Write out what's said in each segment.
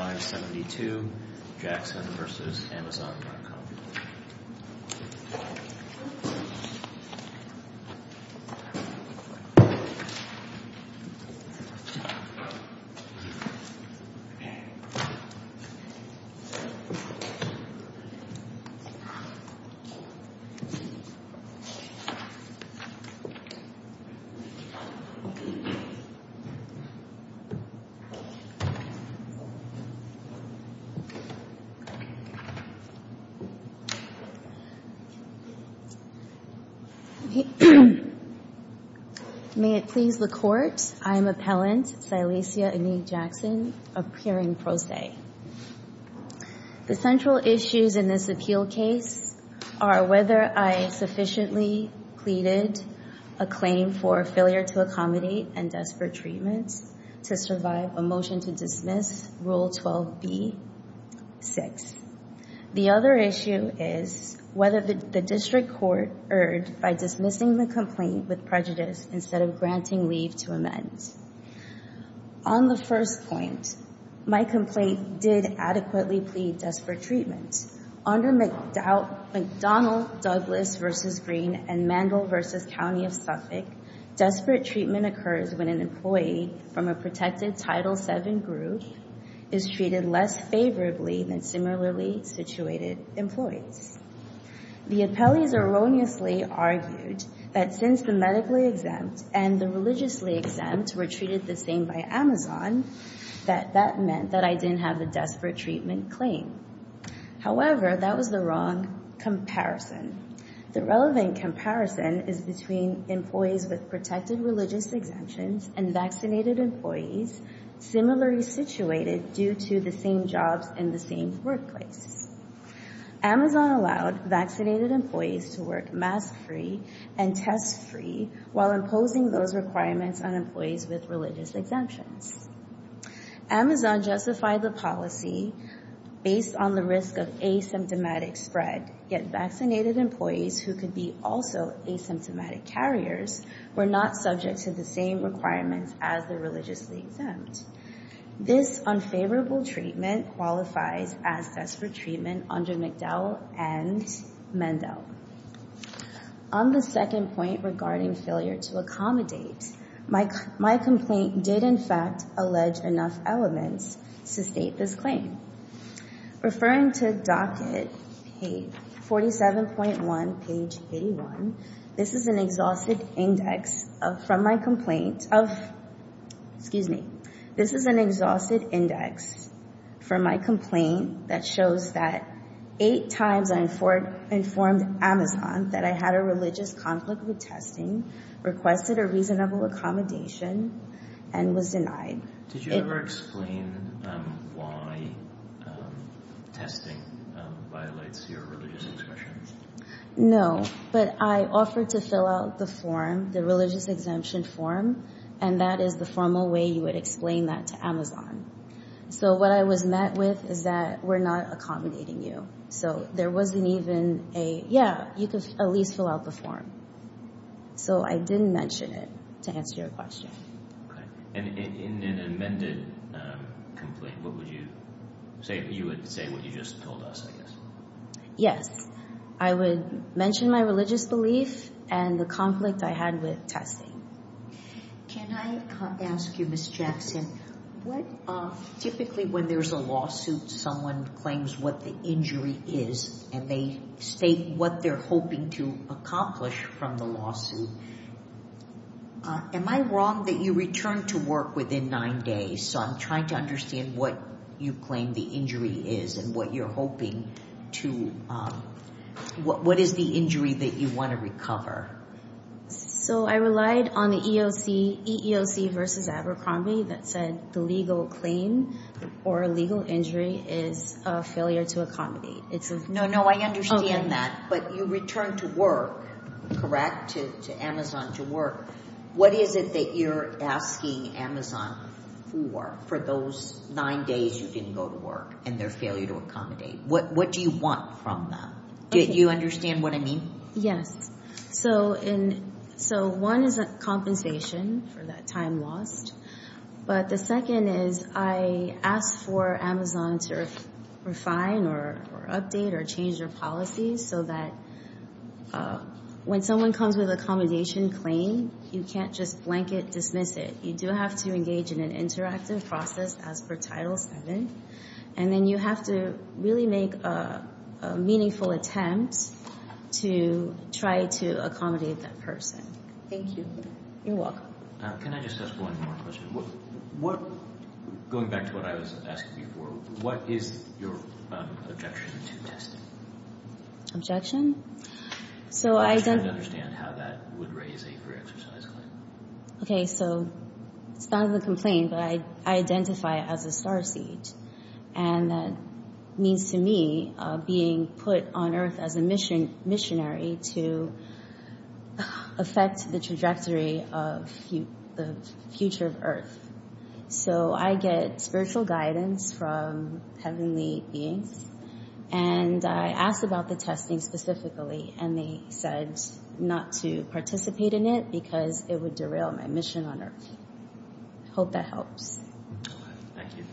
572 Jackson v. Amazon.com May it please the Court, I am Appellant Silesia Enig-Jackson, appearing pro se. The central issues in this appeal case are whether I sufficiently pleaded a claim for failure to accommodate and desperate treatment to survive a motion to dismiss rule 12b. 6. The other issue is whether the District Court erred by dismissing the complaint with prejudice instead of granting leave to amend. On the first point, my complaint did adequately plead desperate treatment. Under McDonnell Douglas v. Green and Mandel v. County of Suffolk, desperate treatment occurs when an employee from a protected Title VII group is treated less favorably than similarly situated employees. The appellees erroneously argued that since the medically exempt and the religiously exempt were treated the same by Amazon, that that meant that I didn't have a desperate treatment claim. However, that was the wrong comparison. The relevant comparison is between employees with protected religious exemptions and vaccinated employees similarly situated due to the same jobs in the same workplace. Amazon allowed vaccinated employees to work mask-free and test-free while imposing those requirements on employees with religious exemptions. Amazon justified the policy based on the risk of asymptomatic spread, yet vaccinated employees who could be also asymptomatic carriers were not subject to the same requirements as the religiously exempt. This unfavorable treatment qualifies as desperate treatment under McDowell and Mandel. On the second point regarding failure to accommodate, my complaint did in fact allege enough elements to state this claim. Referring to docket 47.1, page 81, this is an exhausted index from my complaint that shows that eight times I informed Amazon that I had a religious conflict with testing, requested a reasonable accommodation, and was denied. Did you ever explain why testing violates your religious exemption? No, but I offered to fill out the form, the religious exemption form, and that is the formal way you would explain that to Amazon. So what I was met with is that we're not accommodating you. So there wasn't even a, yeah, you could at least fill out the form. So I didn't mention it to answer your question. And in an amended complaint, what would you say? You would say what you just told us, I guess. Yes, I would mention my religious belief and the conflict I had with testing. Can I ask you, Ms. Jackson, typically when there's a lawsuit, someone claims what the injury is, and they state what they're hoping to accomplish from the lawsuit. Am I wrong that you return to work within nine days? So I'm trying to understand what you claim the injury is and what you're hoping to, what is the injury that you want to recover? So I relied on the EEOC versus Abercrombie that said the legal claim or legal injury is a failure to accommodate. No, no, I understand that. But you return to work, correct, to Amazon to work. What is it that you're asking Amazon for for those nine days you didn't go to work and their failure to accommodate? What do you want from them? Do you understand what I mean? Yes. So one is a compensation for that time lost. But the second is I asked for Amazon to refine or update or change their policies so that when someone comes with an accommodation claim, you can't just blanket dismiss it. You do have to engage in an interactive process as per Title VII. And then you have to really make a meaningful attempt to try to accommodate that person. Thank you. You're welcome. Can I just ask one more question? Going back to what I was asking before, what is your objection to testing? Objection? I'm just trying to understand how that would raise a free exercise claim. Okay, so it's not a complaint, but I identify it as a starseed. And that means to me being put on Earth as a missionary to affect the trajectory of the future of Earth. So I get spiritual guidance from heavenly beings. And I asked about the testing specifically, and they said not to participate in it because it would derail my mission on Earth. I hope that helps. Thank you.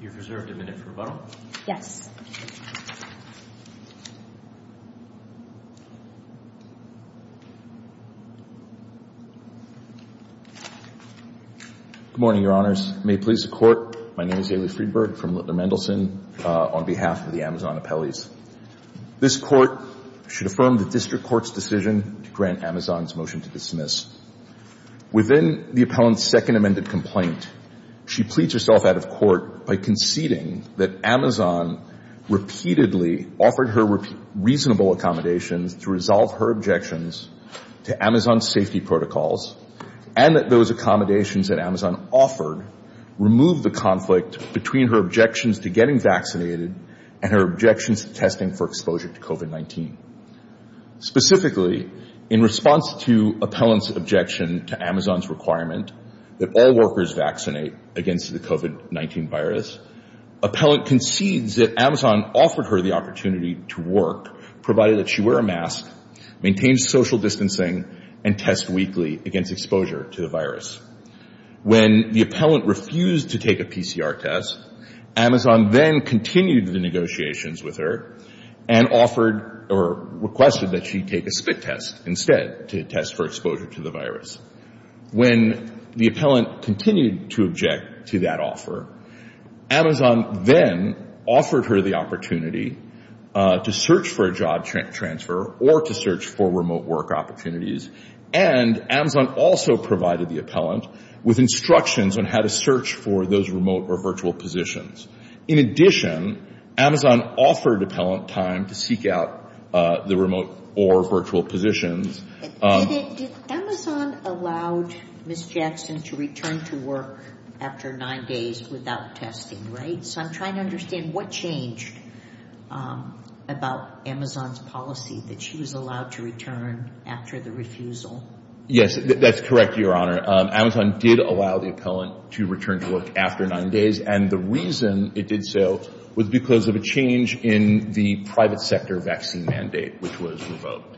You've reserved a minute for rebuttal. Yes. Good morning, Your Honors. May it please the Court. My name is Haley Friedberg from Littler Mendelsohn on behalf of the Amazon appellees. This Court should affirm the district court's decision to grant Amazon's motion to dismiss. Within the appellant's second amended complaint, she pleads herself out of court by conceding that Amazon repeatedly offered her reasonable accommodations to resolve her objections to Amazon's safety protocols and that those accommodations that Amazon offered removed the conflict between her objections to getting vaccinated and her objections to testing for exposure to COVID-19. Specifically, in response to appellant's objection to Amazon's requirement that all workers vaccinate against the COVID-19 virus, appellant concedes that Amazon offered her the opportunity to work, provided that she wear a mask, maintain social distancing, and test weekly against exposure to the virus. When the appellant refused to take a PCR test, Amazon then continued the negotiations with her and offered or requested that she take a spit test instead to test for exposure to the virus. When the appellant continued to object to that offer, Amazon then offered her the opportunity to search for a job transfer or to search for remote work opportunities, and Amazon also provided the appellant with instructions on how to search for those remote or virtual positions. In addition, Amazon offered appellant time to seek out the remote or virtual positions. Did Amazon allow Ms. Jackson to return to work after nine days without testing, right? So I'm trying to understand what changed about Amazon's policy that she was allowed to return after the refusal. Yes, that's correct, Your Honor. Amazon did allow the appellant to return to work after nine days, and the reason it did so was because of a change in the private sector vaccine mandate, which was revoked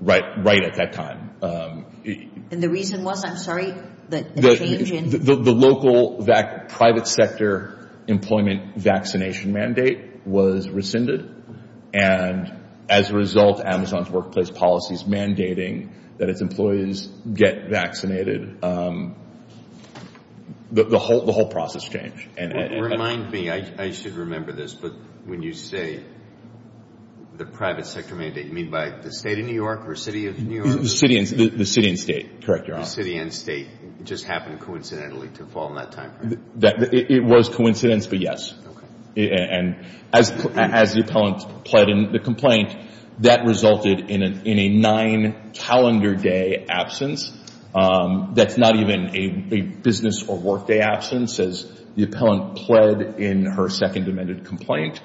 right at that time. And the reason was, I'm sorry, the change in... The local private sector employment vaccination mandate was rescinded, and as a result, Amazon's workplace policy is mandating that its employees get vaccinated. The whole process changed. Remind me, I should remember this, but when you say the private sector mandate, you mean by the state of New York or city of New York? The city and state, correct, Your Honor. The city and state just happened coincidentally to fall in that timeframe. It was coincidence, but yes. Okay. And as the appellant pled in the complaint, that resulted in a nine-calendar day absence. That's not even a business or workday absence. As the appellant pled in her second amended complaint,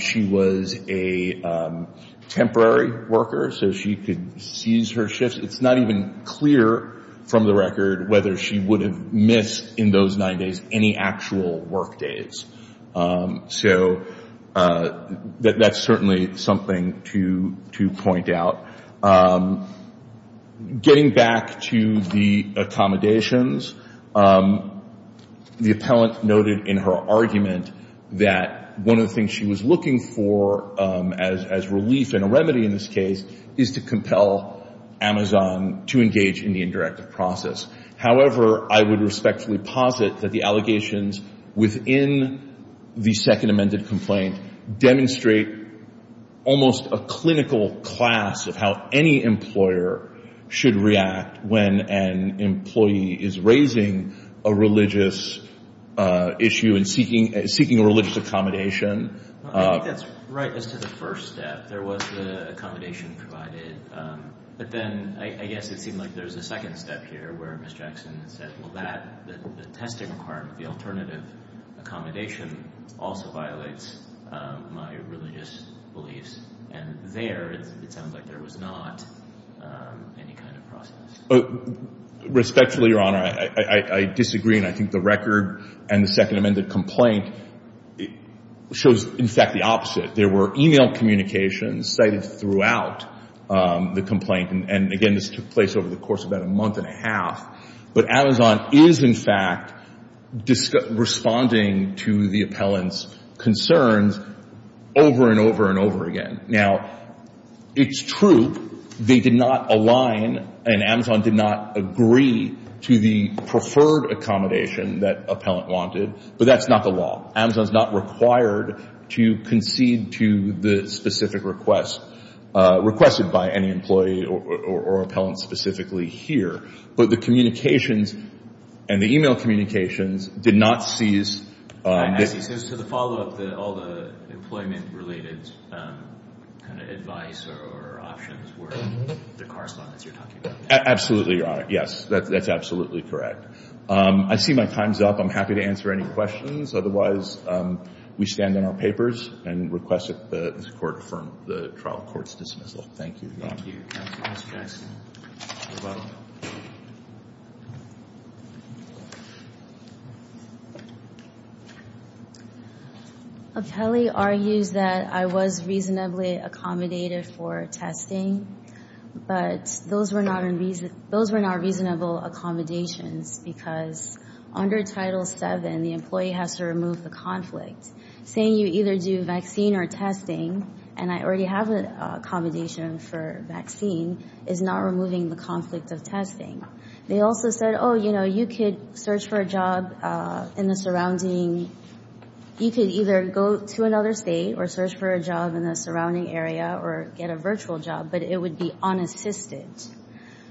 she was a temporary worker, so she could seize her shifts. It's not even clear from the record whether she would have missed in those nine days any actual workdays. So that's certainly something to point out. Getting back to the accommodations, the appellant noted in her argument that one of the things she was looking for as relief and a remedy in this case is to compel Amazon to engage in the indirective process. However, I would respectfully posit that the allegations within the second amended complaint demonstrate almost a clinical class of how any employer should react when an employee is raising a religious issue and seeking a religious accommodation. I think that's right as to the first step. There was the accommodation provided. But then I guess it seemed like there's a second step here where Ms. Jackson said, well, that, the testing requirement, the alternative accommodation also violates my religious beliefs. And there, it sounds like there was not any kind of process. Respectfully, Your Honor, I disagree. And I think the record and the second amended complaint shows, in fact, the opposite. There were e-mail communications cited throughout the complaint. And, again, this took place over the course of about a month and a half. But Amazon is, in fact, responding to the appellant's concerns over and over and over again. Now, it's true they did not align and Amazon did not agree to the preferred accommodation that appellant wanted. But that's not the law. Amazon is not required to concede to the specific request requested by any employee or appellant specifically here. But the communications and the e-mail communications did not cease. Actually, so the follow-up, all the employment-related kind of advice or options were the correspondence you're talking about. Absolutely, Your Honor. Yes, that's absolutely correct. I see my time's up. I'm happy to answer any questions. Otherwise, we stand on our papers and request that this Court affirm the trial court's dismissal. Thank you. Thank you. Ms. Jackson, you're welcome. Appellee argues that I was reasonably accommodated for testing, but those were not reasonable accommodations because under Title VII, the employee has to remove the conflict. Saying you either do vaccine or testing, and I already have an accommodation for vaccine, is not removing the conflict of testing. They also said, oh, you know, you could search for a job in the surrounding. You could either go to another state or search for a job in the surrounding area or get a virtual job, but it would be unassisted.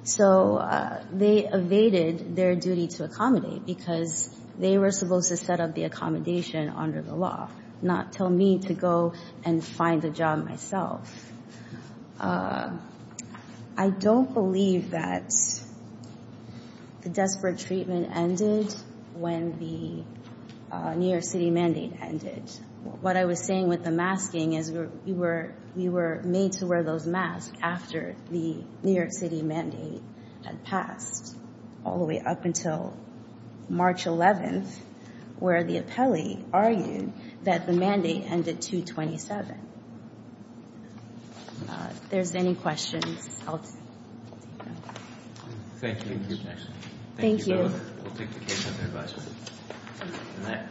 So they evaded their duty to accommodate because they were supposed to set up the accommodation under the law, not tell me to go and find a job myself. I don't believe that the desperate treatment ended when the New York City mandate ended. What I was saying with the masking is we were made to wear those masks after the New York City mandate had passed, all the way up until March 11th, where the appellee argued that the mandate ended 2-27. If there's any questions, I'll take them. Thank you, Ms. Jackson. Thank you. We'll take the case under advisory.